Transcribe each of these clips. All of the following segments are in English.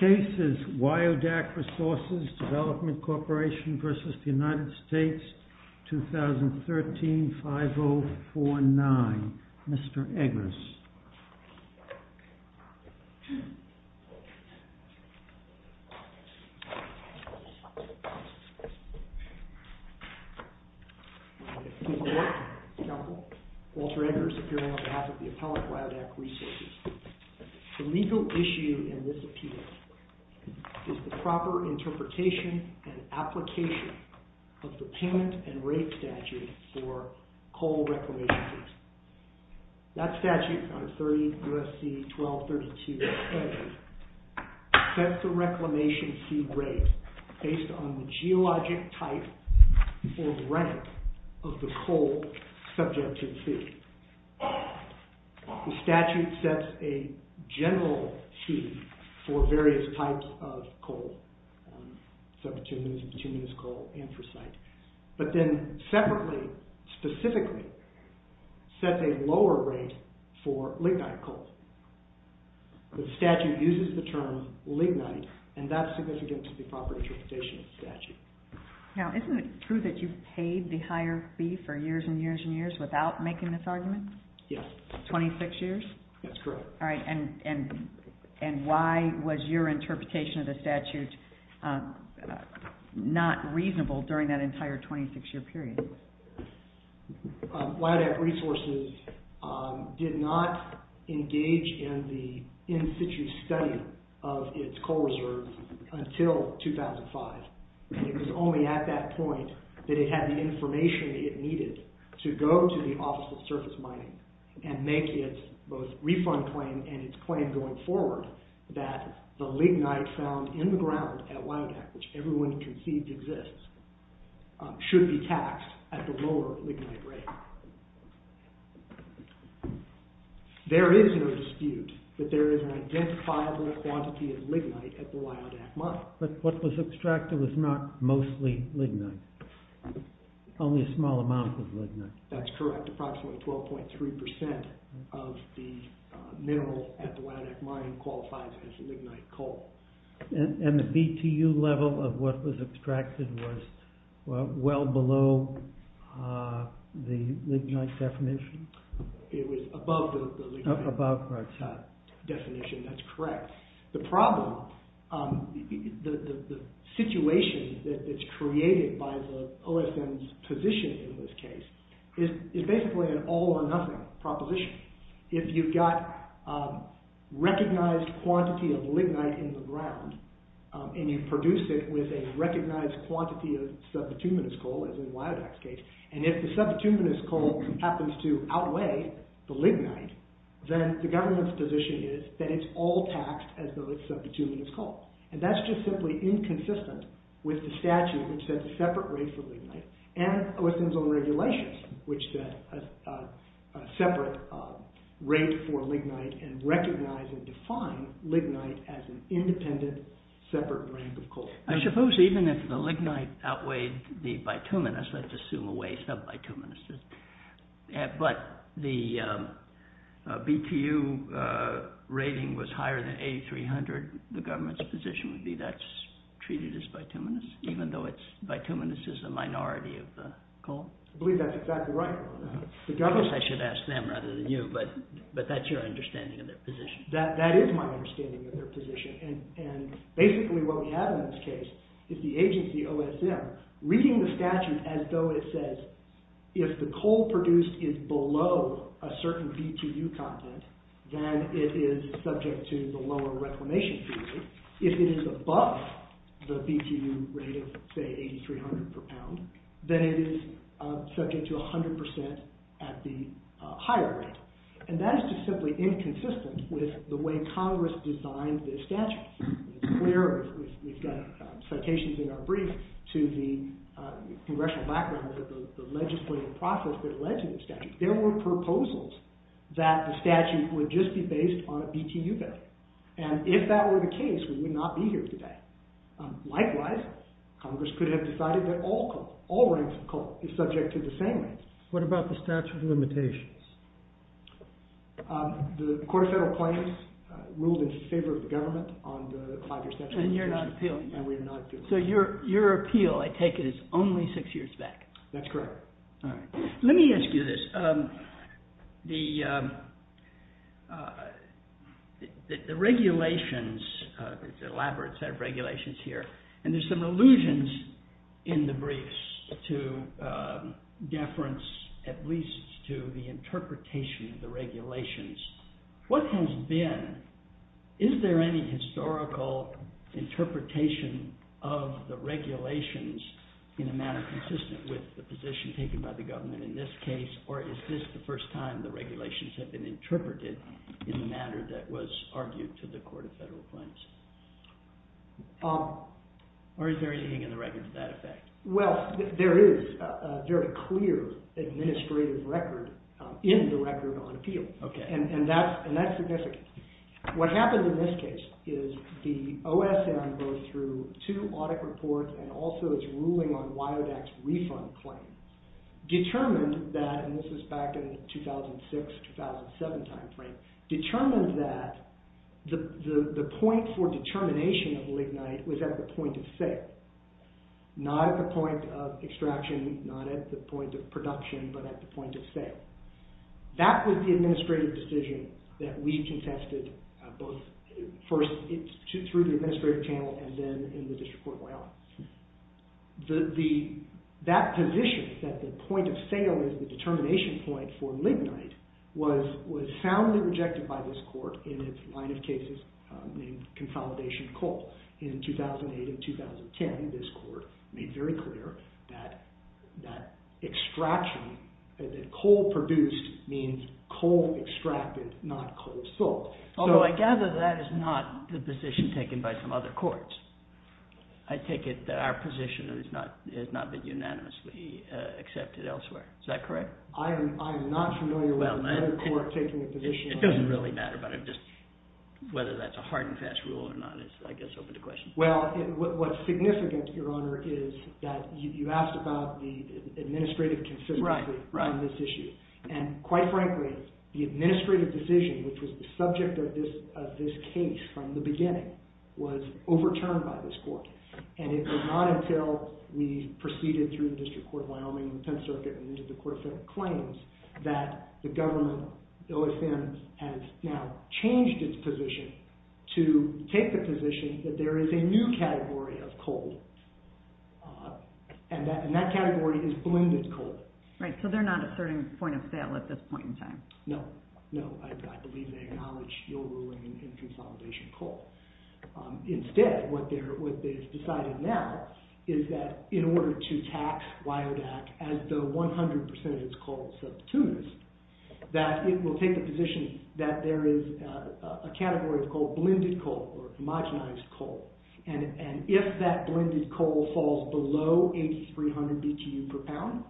2013, 5049. Mr. Eggers. Mr. Walter Eggers, on behalf of the Appellate WYODAK Resources. The legal issue in this appeal is the proper interpretation and application of the payment and rate statute for coal reclamation fees. That statute on 30 U.S.C. 1232a sets the reclamation fee rate based on the geologic type or the rank of the coal subject to the fee. The statute sets a general fee for various types of coal, such as continuous coal and for site. But then separately, specifically, sets a lower rate for lignite coal. The statute uses the term lignite and that's significant to the proper interpretation of the statute. Now, isn't it true that you paid the higher fee for years and years and years without making this argument? Yes. 26 years? That's correct. All right. And why was your interpretation of the statute not reasonable during that entire 26-year period? WYODAK Resources did not engage in the in-situ study of its coal reserves until 2005. It was only at that point that it had the information it needed to go to the Office of Surface Mining and make its both refund claim and its claim going forward that the lignite found in the ground at WYODAK, which everyone conceived exists, should be taxed at the lower lignite rate. There is no dispute that there is an identifiable quantity of lignite at the WYODAK mine. But what was extracted was not mostly lignite, only a small amount of lignite. That's correct. Approximately 12.3% of the mineral at the WYODAK mine qualifies as lignite coal. And the BTU level of what was extracted was well below the lignite definition? It was above the lignite definition. That's correct. The problem, the situation that is created by the OSM's position in this case is basically an all or nothing proposition. If you've got recognized quantity of lignite in the ground and you produce it with a recognized quantity of sub-petuminous coal, as in WYODAK's case, and if the sub-petuminous coal happens to outweigh the lignite, then the government's position is that it's all taxed as though it's sub-petuminous coal. And that's just simply inconsistent with the statute which sets a separate rate for lignite and OSM's own regulations which set a separate rate for lignite and recognize and define lignite as an independent separate rank of coal. I suppose even if the lignite outweighed the bituminous, let's assume a way sub-bituminous, but the BTU rating was higher than A300, the government's position would be that's treated as bituminous even though bituminous is a minority of the coal? I believe that's exactly right. I guess I should ask them rather than you, but that's your understanding of their position. That is my understanding of their position, and basically what we have in this case is the agency OSM reading the statute as though it says if the coal produced is below a certain BTU content, then it is subject to the lower reclamation fees. If it is above the BTU rate of say A300 per pound, then it is subject to 100% at the higher rate. And that is just simply inconsistent with the way Congress designed this statute. It's clear, we've got citations in our brief to the congressional background that the legislative process, the legislative statute, there were proposals that the statute would just be based on a BTU value. And if that were the case, we would not be here today. Likewise, Congress could have decided that all coal, all ranks of coal is subject to the same rate. What about the statute of limitations? The court of federal claims ruled in favor of the government on the five-year statute. And you're not appealing? And we're not appealing. So your appeal, I take it, is only six years back? That's correct. All right. Let me ask you this. The regulations, the elaborate set of regulations here, and there's some allusions in the briefs to deference at least to the interpretation of the regulations. What has been, is there any historical interpretation of the regulations in a manner consistent with the position taken by the government in this case? Or is this the first time the regulations have been interpreted in the manner that was argued to the court of federal claims? Or is there anything in the record to that effect? Well, there is a very clear administrative record in the record on appeal. Okay. And that's significant. What happened in this case is the OSM, both through two audit reports and also its ruling on WIODAC's refund claim, determined that, and this is back in the 2006-2007 time frame, determined that the point for determination of lignite was at the point of sale, not at the point of extraction, not at the point of production, but at the point of sale. That was the administrative decision that we contested both first through the administrative channel and then in the district court of WIODAC. That position, that the point of sale is the determination point for lignite, was soundly rejected by this court in its line of cases named consolidation of coal. In 2008 and 2010, this court made very clear that extraction, that coal produced means coal extracted, not coal sold. Although I gather that is not the position taken by some other courts. I take it that our position has not been unanimously accepted elsewhere. Is that correct? I am not familiar with another court taking a position on that. It doesn't really matter, but I'm just, whether that's a hard and fast rule or not is, I guess, open to questions. Well, what's significant, Your Honor, is that you asked about the administrative consistency on this issue. And quite frankly, the administrative decision, which was the subject of this case from the beginning, was overturned by this court. And it was not until we proceeded through the District Court of Wyoming, the 10th Circuit, and into the Court of Federal Claims, that the government, OSN, has now changed its position to take the position that there is a new category of coal. And that category is blended coal. Right, so they're not asserting point of sale at this point in time. No, no. I believe they acknowledge your ruling in consolidation of coal. Instead, what they've decided now is that in order to tax WIODAC as the 100% of its coal subpoenas, that it will take the position that there is a category of coal, blended coal, or homogenized coal. And if that blended coal falls below 8,300 BTU per pound,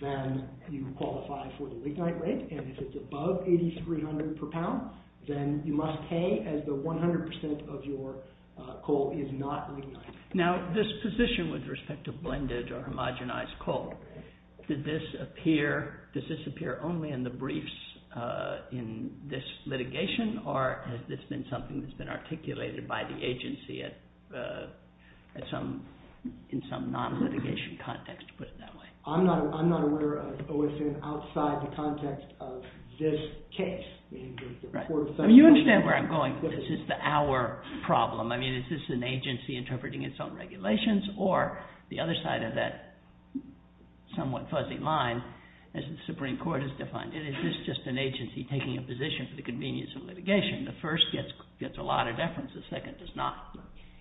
then you qualify for the lignite rate. And if it's above 8,300 per pound, then you must pay as the 100% of your coal is not lignite. Now, this position with respect to blended or homogenized coal, does this appear only in the briefs in this litigation, or has this been something that's been articulated by the agency in some non-litigation context, to put it that way? I'm not aware of OSN outside the context of this case. You understand where I'm going, but this is our problem. I mean, is this an agency interpreting its own regulations, or the other side of that somewhat fuzzy line, as the Supreme Court has defined it. Is this just an agency taking a position for the convenience of litigation? The first gets a lot of deference. The second does not.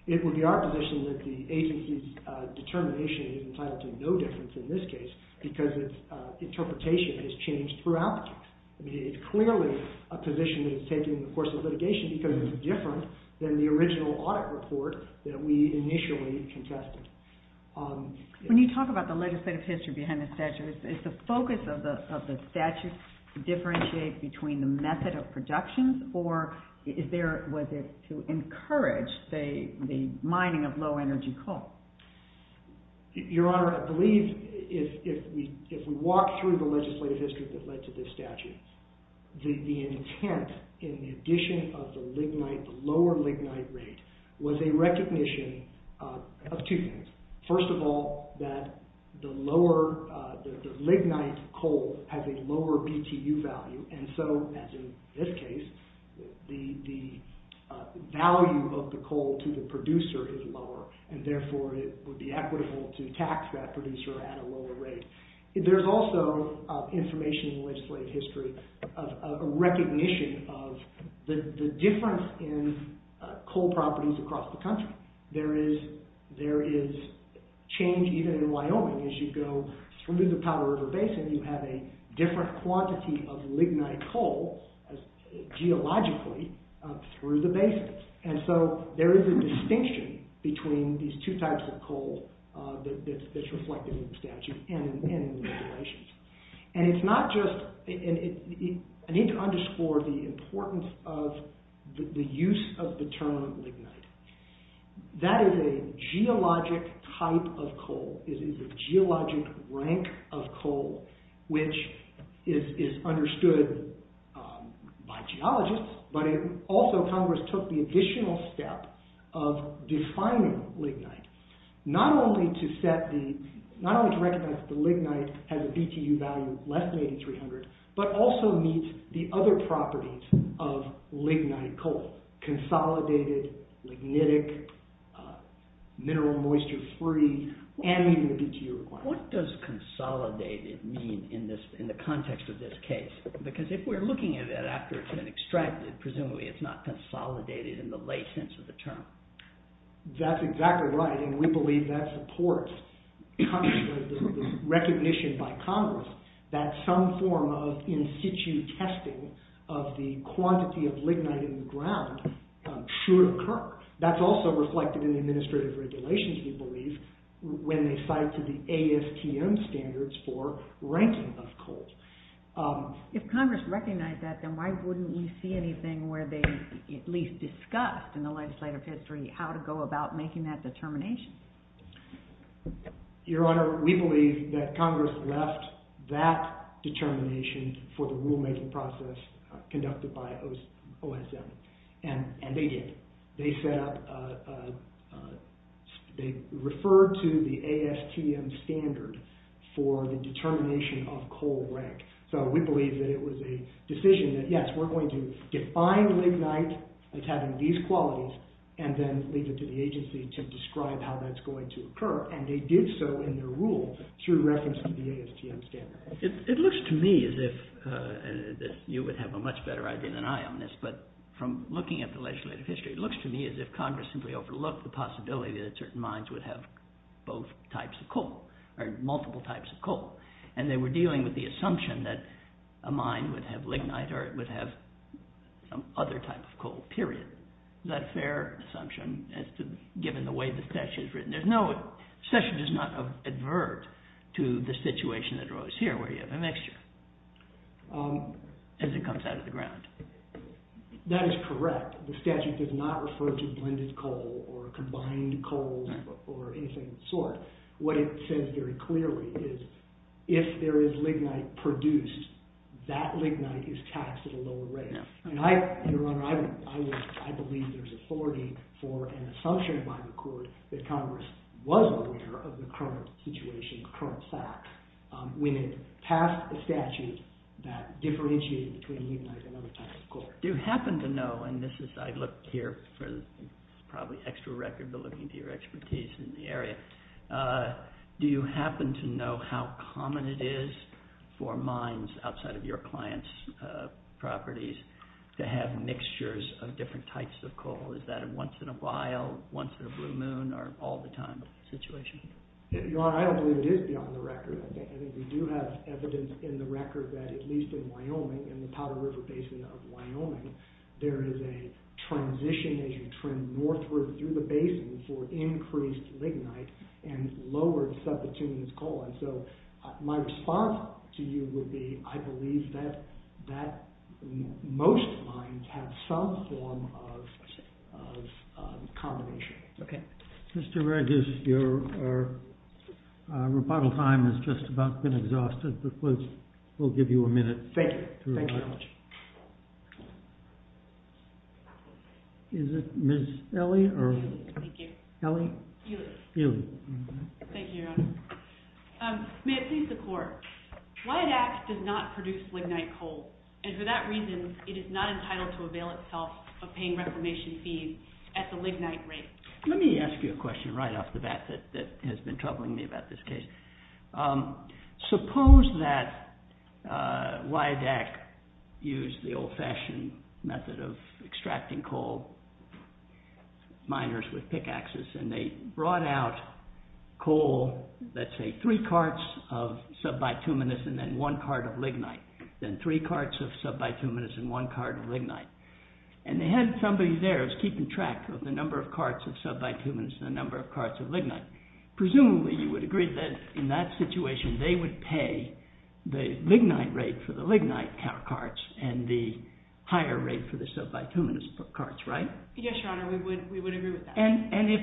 It would be our position that the agency's determination is entitled to no difference in this case, because its interpretation has changed throughout the case. I mean, it's clearly a position that is taking the course of litigation, because it's different than the original audit report that we initially contested. When you talk about the legislative history behind the statute, is the focus of the statute differentiate between the method of production, or was it to encourage the mining of low-energy coal? Your Honor, I believe if we walk through the legislative history that led to this statute, the intent in the addition of the lower lignite rate was a recognition of two things. First of all, that the lignite coal has a lower BTU value, and so, as in this case, the value of the coal to the producer is lower, and therefore it would be equitable to tax that producer at a lower rate. There's also information in the legislative history of a recognition of the difference in coal properties across the country. There is change, even in Wyoming, as you go through the Powell River Basin, you have a different quantity of lignite coal, geologically, through the basin. And so, there is a distinction between these two types of coal that's reflected in the statute and in the regulations. I need to underscore the importance of the use of the term lignite. That is a geologic type of coal, it is a geologic rank of coal, which is understood by geologists, but also Congress took the additional step of defining lignite, not only to recognize that the lignite has a BTU value less than 8300, but also meets the other properties of lignite coal. Consolidated, lignitic, mineral moisture free, and meeting the BTU requirement. What does consolidated mean in the context of this case? Because if we're looking at it after it's been extracted, presumably it's not consolidated in the lay sense of the term. That's exactly right, and we believe that supports the recognition by Congress that some form of in-situ testing of the quantity of lignite in the ground should occur. That's also reflected in the administrative regulations, we believe, when they cite to the ASTM standards for ranking of coal. If Congress recognized that, then why wouldn't we see anything where they at least discussed in the legislative history how to go about making that determination? Your Honor, we believe that Congress left that determination for the rulemaking process conducted by OSM, and they did. They referred to the ASTM standard for the determination of coal rank. We believe that it was a decision that, yes, we're going to define lignite as having these qualities, and then leave it to the agency to describe how that's going to occur. They did so in their rule through reference to the ASTM standard. It looks to me as if you would have a much better idea than I on this, but from looking at the legislative history, it looks to me as if Congress simply overlooked the possibility that certain mines would have both types of coal, or multiple types of coal, and they were dealing with the assumption that a mine would have lignite or it would have some other type of coal, period. Is that a fair assumption given the way the statute is written? The statute does not advert to the situation that arose here where you have a mixture as it comes out of the ground. That is correct. The statute does not refer to blended coal or combined coal or anything of the sort. What it says very clearly is if there is lignite produced, that lignite is taxed at a lower rate. Your Honor, I believe there's authority for an assumption by the court that Congress was aware of the current situation, the current fact, when it passed a statute that differentiated between lignite and other types of coal. Do you happen to know, and this is, I looked here for probably extra record, but looking at your expertise in the area, do you happen to know how common it is for mines outside of your client's properties to have mixtures of different types of coal? Is that a once in a while, once in a blue moon, or all the time situation? Your Honor, I don't believe it is beyond the record. I think we do have evidence in the record that at least in Wyoming, in the Powder River Basin of Wyoming, there is a transition as you trend northward through the basin for increased lignite and lowered subterranean coal. My response to you would be I believe that most mines have some form of combination. Mr. Regus, your rebuttal time has just about been exhausted, but we'll give you a minute. Thank you. Is it Ms. Ely? Thank you. Ely? Ely. Thank you, Your Honor. May it please the Court. WIADAC does not produce lignite coal, and for that reason, it is not entitled to avail itself of paying reclamation fees at the lignite rate. Let me ask you a question right off the bat that has been troubling me about this case. Suppose that WIADAC used the old-fashioned method of extracting coal, miners with pickaxes, and they brought out coal, let's say three carts of subbituminous and then one cart of lignite. Then three carts of subbituminous and one cart of lignite. And they had somebody there who was keeping track of the number of carts of subbituminous and the number of carts of lignite. Presumably, you would agree that in that situation, they would pay the lignite rate for the lignite carts and the higher rate for the subbituminous carts, right? Yes, Your Honor, we would agree with that. And if,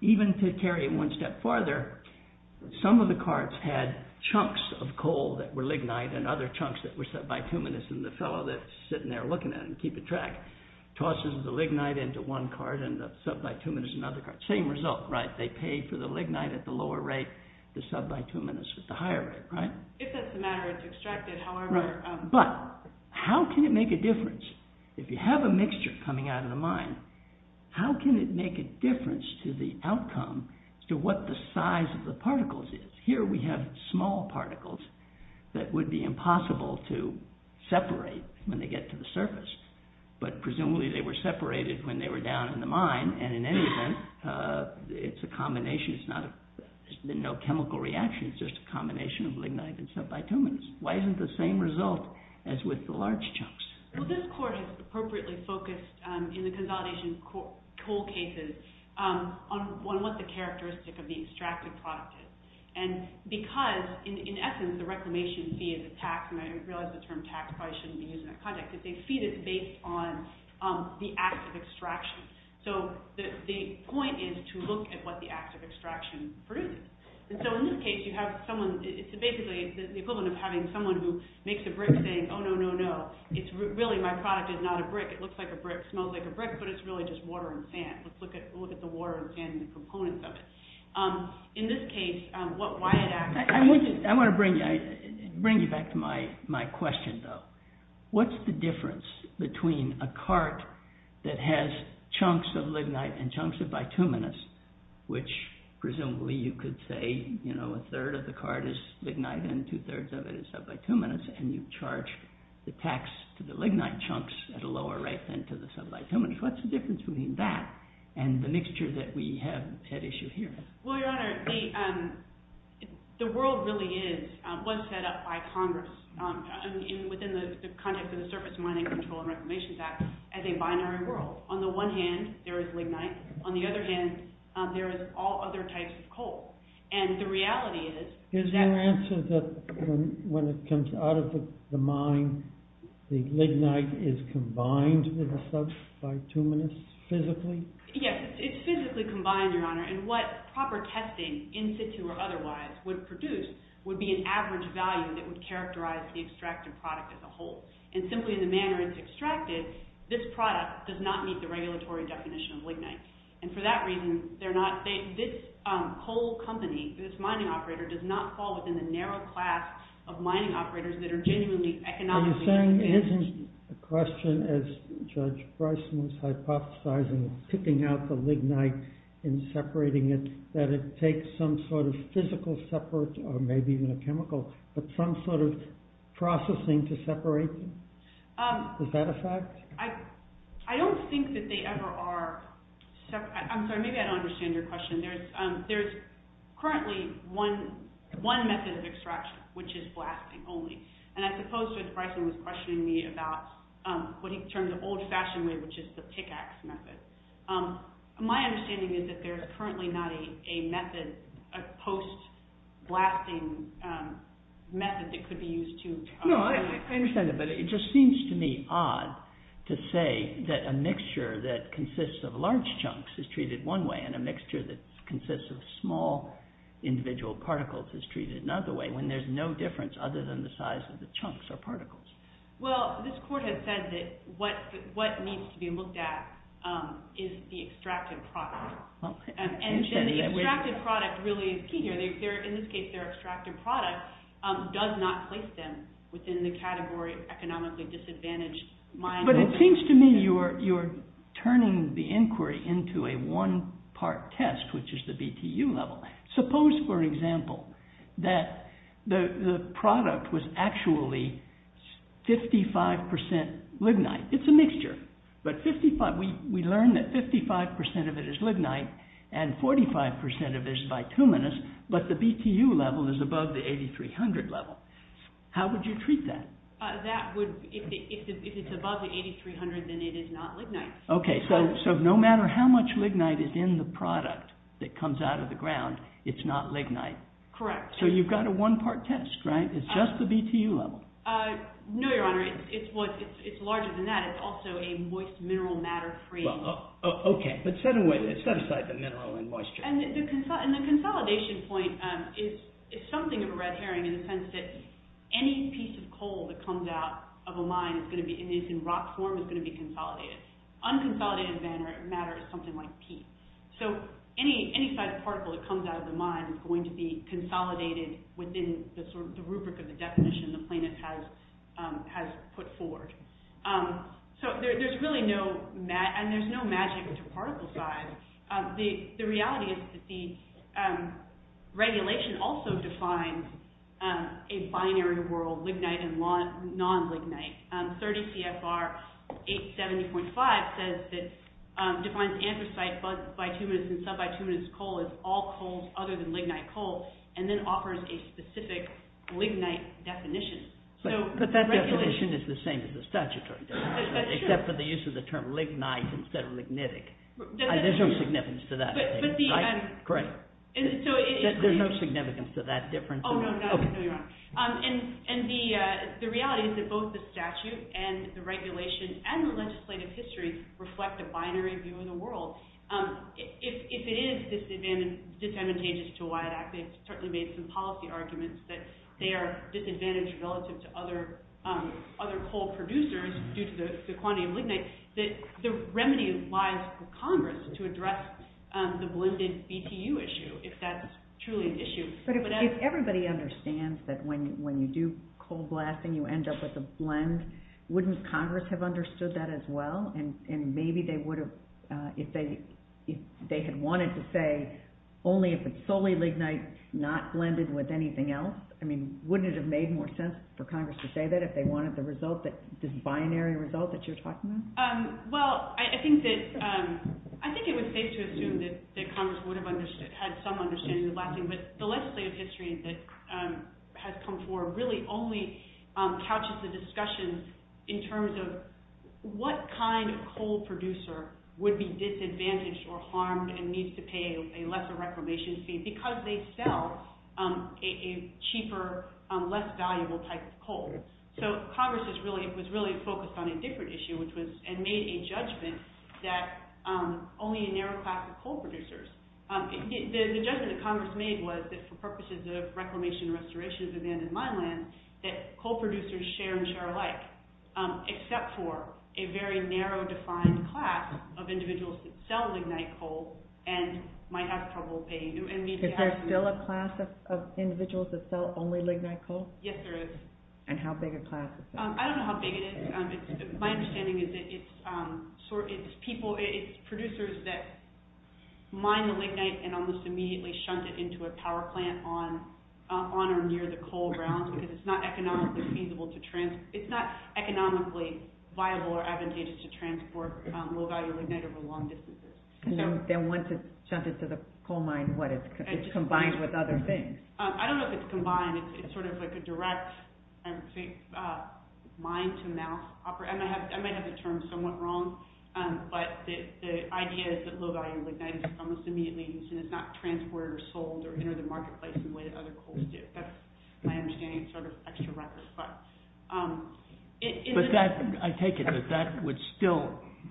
even to carry it one step farther, some of the carts had chunks of coal that were lignite and other chunks that were subbituminous, and the fellow that's sitting there looking at it and keeping track tosses the lignite into one cart and the subbituminous into another cart. Same result, right? They pay for the lignite at the lower rate, the subbituminous at the higher rate, right? If that's the matter, it's extracted. Right. But how can it make a difference? If you have a mixture coming out of the mine, how can it make a difference to the outcome, to what the size of the particles is? Here we have small particles that would be impossible to separate when they get to the surface. But presumably they were separated when they were down in the mine, and in any event, it's a combination. There's no chemical reaction. It's just a combination of lignite and subbituminous. Why isn't the same result as with the large chunks? Well, this court has appropriately focused in the consolidation of coal cases on what the characteristic of the extracted product is. And because, in essence, the reclamation fee is a tax, and I realize the term tax probably shouldn't be used in that context, but they see this based on the act of extraction. So the point is to look at what the act of extraction produces. And so in this case, you have someone—it's basically the equivalent of having someone who makes a brick saying, oh, no, no, no, it's really—my product is not a brick. It looks like a brick, smells like a brick, but it's really just water and sand. Let's look at the water and sand and the components of it. In this case, what Wyatt asked— I want to bring you back to my question, though. What's the difference between a cart that has chunks of lignite and chunks of bituminous, which presumably you could say, you know, a third of the cart is lignite and two-thirds of it is subbituminous, and you charge the tax to the lignite chunks at a lower rate than to the subbituminous. What's the difference between that and the mixture that we have at issue here? Well, Your Honor, the world really is—was set up by Congress within the context of the Surface Mining Control and Reclamation Act as a binary world. On the one hand, there is lignite. On the other hand, there is all other types of coal. And the reality is— Is your answer that when it comes out of the mine, the lignite is combined with the subbituminous physically? Yes, it's physically combined, Your Honor. And what proper testing, in situ or otherwise, would produce would be an average value that would characterize the extracted product as a whole. And simply in the manner it's extracted, this product does not meet the regulatory definition of lignite. And for that reason, they're not—this coal company, this mining operator, does not fall within the narrow class of mining operators that are genuinely economically— Are you saying—is the question, as Judge Bryson was hypothesizing, picking out the lignite and separating it, that it takes some sort of physical separate—or maybe even a chemical—but some sort of processing to separate them? Is that a fact? I don't think that they ever are—I'm sorry, maybe I don't understand your question. There's currently one method of extraction, which is blasting only. And I suppose Judge Bryson was questioning me about what he termed the old-fashioned way, which is the pickaxe method. My understanding is that there's currently not a method—a post-blasting method that could be used to— Well, this court has said that what needs to be looked at is the extracted product. And the extracted product really is key here. In this case, their extracted product does not place them within the category economically disadvantaged mining— But it seems to me you're turning the inquiry into a one-part test, which is the BTU level. Suppose, for example, that the product was actually 55% lignite. It's a mixture, but we learned that 55% of it is lignite and 45% of it is bituminous, but the BTU level is above the 8,300 level. How would you treat that? If it's above the 8,300, then it is not lignite. Okay, so no matter how much lignite is in the product that comes out of the ground, it's not lignite. Correct. So you've got a one-part test, right? It's just the BTU level. No, Your Honor. It's larger than that. It's also a moist mineral matter framework. Okay, but set aside the mineral and moisture. And the consolidation point is something of a red herring in the sense that any piece of coal that comes out of a mine and is in rock form is going to be consolidated. Unconsolidated matter is something like P. So any particle that comes out of the mine is going to be consolidated within the rubric of the definition the plaintiff has put forward. So there's really no magic to particle size. The reality is that the regulation also defines a binary world, lignite and non-lignite. 30 CFR 870.5 defines anthracite, bituminous, and subbituminous coal as all coals other than lignite coal and then offers a specific lignite definition. But that definition is the same as the statutory definition, except for the use of the term lignite instead of lignitic. There's no significance to that. Correct. There's no significance to that difference. Oh, no, you're wrong. And the reality is that both the statute and the regulation and the legislative history reflect a binary view of the world. If it is disadvantageous to WIAT Act, they've certainly made some policy arguments that they are disadvantaged relative to other coal producers due to the quantity of lignite. The remedy lies with Congress to address the blended BTU issue, if that's truly an issue. But if everybody understands that when you do coal blasting, you end up with a blend, wouldn't Congress have understood that as well? And maybe they would have if they had wanted to say only if it's solely lignite, not blended with anything else. I mean, wouldn't it have made more sense for Congress to say that if they wanted the result, this binary result that you're talking about? Well, I think it would be safe to assume that Congress would have had some understanding of blasting. But the legislative history that has come forward really only couches the discussion in terms of what kind of coal producer would be disadvantaged or harmed and needs to pay a lesser reclamation fee because they sell a cheaper, less valuable type of coal. So Congress was really focused on a different issue and made a judgment that only a narrow class of coal producers. The judgment that Congress made was that for purposes of reclamation and restoration of abandoned mine lands, that coal producers share and share alike, except for a very narrow defined class of individuals that sell lignite coal and might have trouble paying. Is there still a class of individuals that sell only lignite coal? Yes, there is. And how big a class is that? I don't know how big it is. My understanding is that it's producers that mine the lignite and almost immediately shunt it into a power plant on or near the coal grounds because it's not economically viable or advantageous to transport low value lignite over long distances. Then once it's shunted to the coal mine, it's combined with other things? I don't know if it's combined. It's sort of like a direct mine-to-mouth operation. I might have the term somewhat wrong, but the idea is that low value lignite is almost immediately used and is not transported or sold or entered the marketplace in the way that other coals do. That's my understanding. It's sort of an extra record. I take it that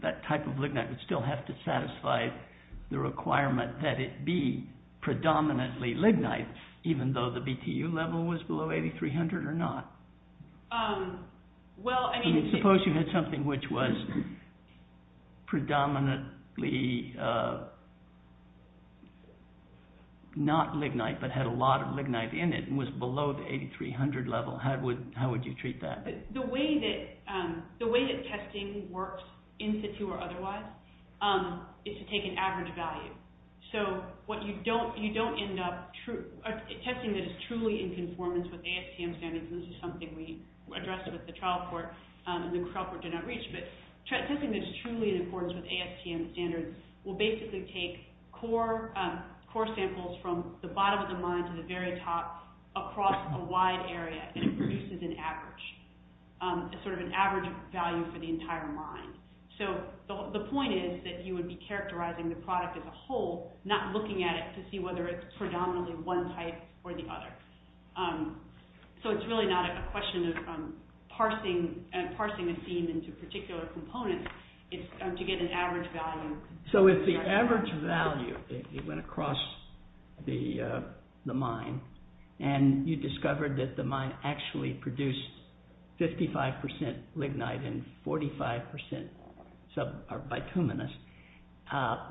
that type of lignite would still have to satisfy the requirement that it be predominantly lignite, even though the BTU level was below 8,300 or not? Suppose you had something which was predominantly not lignite but had a lot of lignite in it and was below the 8,300 level. How would you treat that? The way that testing works, in situ or otherwise, is to take an average value. Testing that is truly in conformance with ASTM standards, and this is something we addressed with the trial port and the trial port did not reach, but testing that is truly in conformance with ASTM standards will basically take core samples from the bottom of the mine to the very top across a wide area, and it produces an average value for the entire mine. The point is that you would be characterizing the product as a whole, not looking at it to see whether it's predominantly one type or the other. It's really not a question of parsing a theme into particular components. It's to get an average value. So if the average value went across the mine and you discovered that the mine actually produced 55% lignite and 45% bituminous,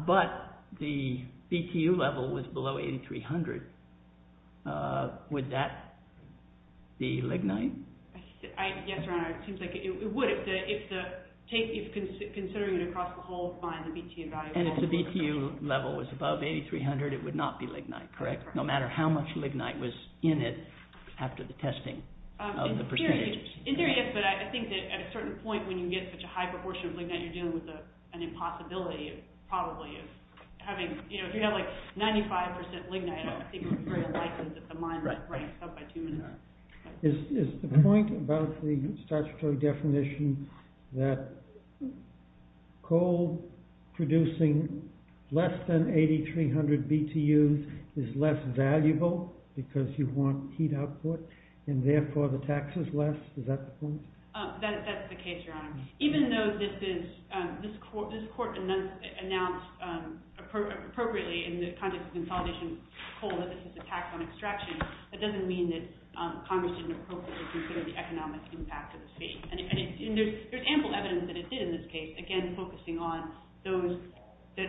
but the BTU level was below 8,300, would that be lignite? Yes, it would if considering it across the whole mine. And if the BTU level was above 8,300, it would not be lignite, correct? No matter how much lignite was in it after the testing of the percentage? In theory, yes, but I think that at a certain point when you get such a high proportion of lignite, you're dealing with an impossibility, probably. If you have 95% lignite, I don't think it's very likely that the mine ranks up by 2%. Is the point about the statutory definition that coal producing less than 8,300 BTU is less valuable because you want heat output and therefore the tax is less? Is that the point? That's the case, Your Honor. Even though this court announced appropriately in the context of consolidation of coal that this is a tax on extraction, that doesn't mean that Congress didn't appropriately consider the economic impact of the state. And there's ample evidence that it did in this case, again, focusing on the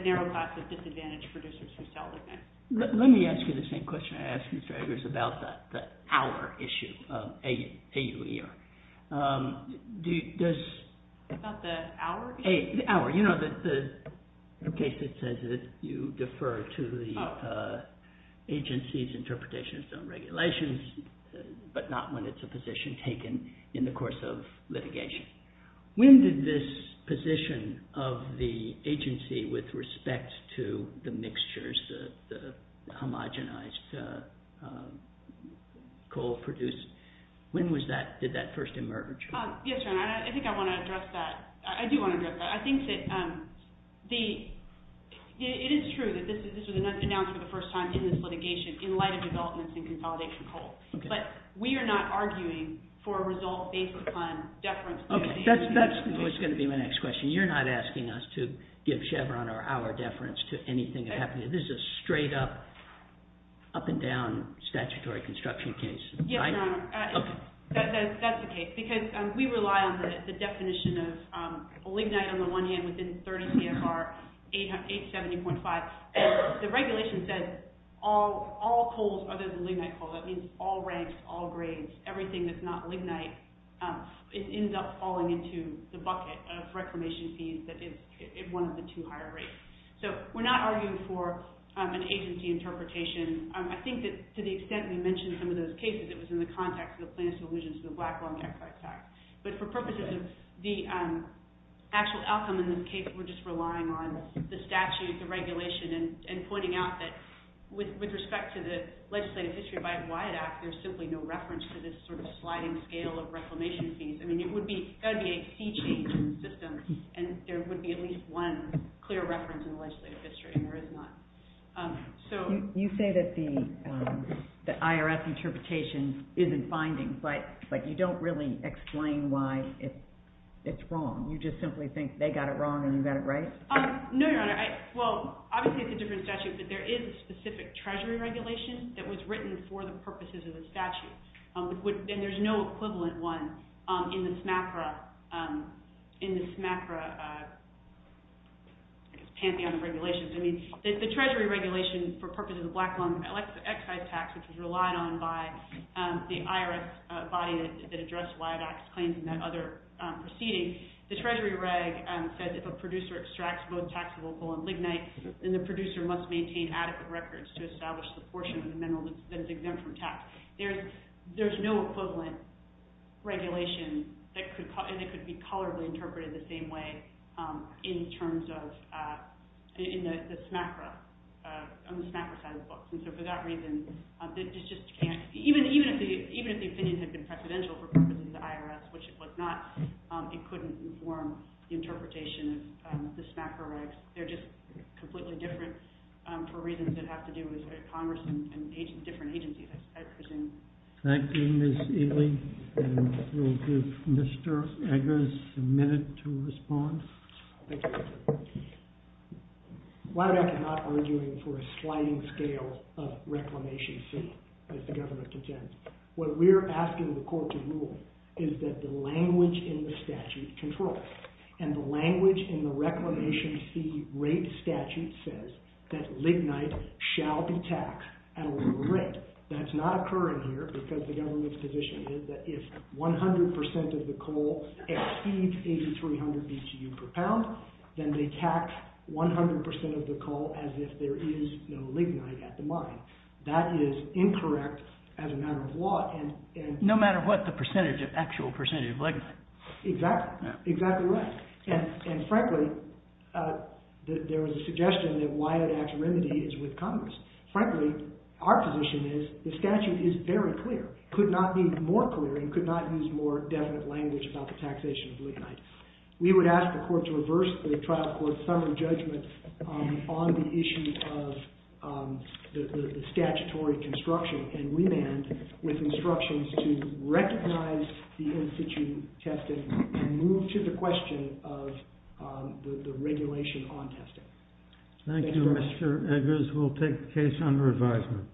narrow class of disadvantaged producers who sell lignite. Let me ask you the same question I asked Ms. Dragers about the hour issue, A-U-E-R. About the hour? The case that says that you defer to the agency's interpretation of regulations, but not when it's a position taken in the course of litigation. When did this position of the agency with respect to the mixtures, the homogenized coal produced, when did that first emerge? Yes, Your Honor. I think I want to address that. I do want to address that. I think that it is true that this was announced for the first time in this litigation in light of developments in consolidation of coal. But we are not arguing for a result based upon deference to the agency's interpretation. That's going to be my next question. You're not asking us to give Chevron our deference to anything that happened. This is a straight up, up and down statutory construction case. Yes, Your Honor. That's the case. Because we rely on the definition of lignite on the one hand within 30 CFR 870.5. The regulation says all coals other than lignite coal, that means all ranks, all grades, everything that's not lignite, it ends up falling into the bucket of reclamation fees that is one of the two higher rates. So, we're not arguing for an agency interpretation. I think that to the extent we mentioned some of those cases, it was in the context of the plaintiff's allusion to the Black Long Jacks Act. But for purposes of the actual outcome in this case, we're just relying on the statute, the regulation, and pointing out that with respect to the legislative history of the Wyatt Act, there's simply no reference to this sort of sliding scale of reclamation fees. I mean, there would be a fee change in the system, and there would be at least one clear reference in the legislative history, and there is not. You say that the IRS interpretation isn't binding, but you don't really explain why it's wrong. You just simply think they got it wrong and you got it right? No, Your Honor. Well, obviously it's a different statute, but there is a specific treasury regulation that was written for the purposes of the statute, and there's no equivalent one in the SMACRA, I guess, pantheon of regulations. I mean, the treasury regulation for purposes of the Black Long Jacks Excise Tax, which was relied on by the IRS body that addressed Wyatt Act's claims in that other proceeding, the treasury reg said if a producer extracts both taxable coal and lignite, then the producer must maintain adequate records to establish the portion of the mineral that is exempt from tax. There's no equivalent regulation that could be colorably interpreted the same way in the SMACRA, on the SMACRA side of the books. And so for that reason, even if the opinion had been precedential for purposes of the IRS, which it was not, it couldn't inform the interpretation of the SMACRA regs. They're just completely different for reasons that have to do with Congress and different agencies, I presume. Thank you, Ms. Ely. We'll give Mr. Eggers a minute to respond. Why am I not arguing for a sliding scale of Reclamation C, as the government contends? What we're asking the court to rule is that the language in the statute controls. And the language in the Reclamation C rate statute says that lignite shall be taxed at a lower rate. That's not occurring here because the government's position is that if 100% of the coal exceeds 8,300 BTU per pound, then they tax 100% of the coal as if there is no lignite at the mine. That is incorrect as a matter of law. No matter what the actual percentage of lignite. Exactly. Exactly right. And frankly, there was a suggestion that why an act of remedy is with Congress. Frankly, our position is the statute is very clear, could not be more clear and could not use more definite language about the taxation of lignite. We would ask the court to reverse the trial court's summary judgment on the issue of the statutory construction and remand with instructions to recognize the in-situ testing and move to the question of the regulation on testing. Thank you, Mr. Eggers. We'll take the case under advisement.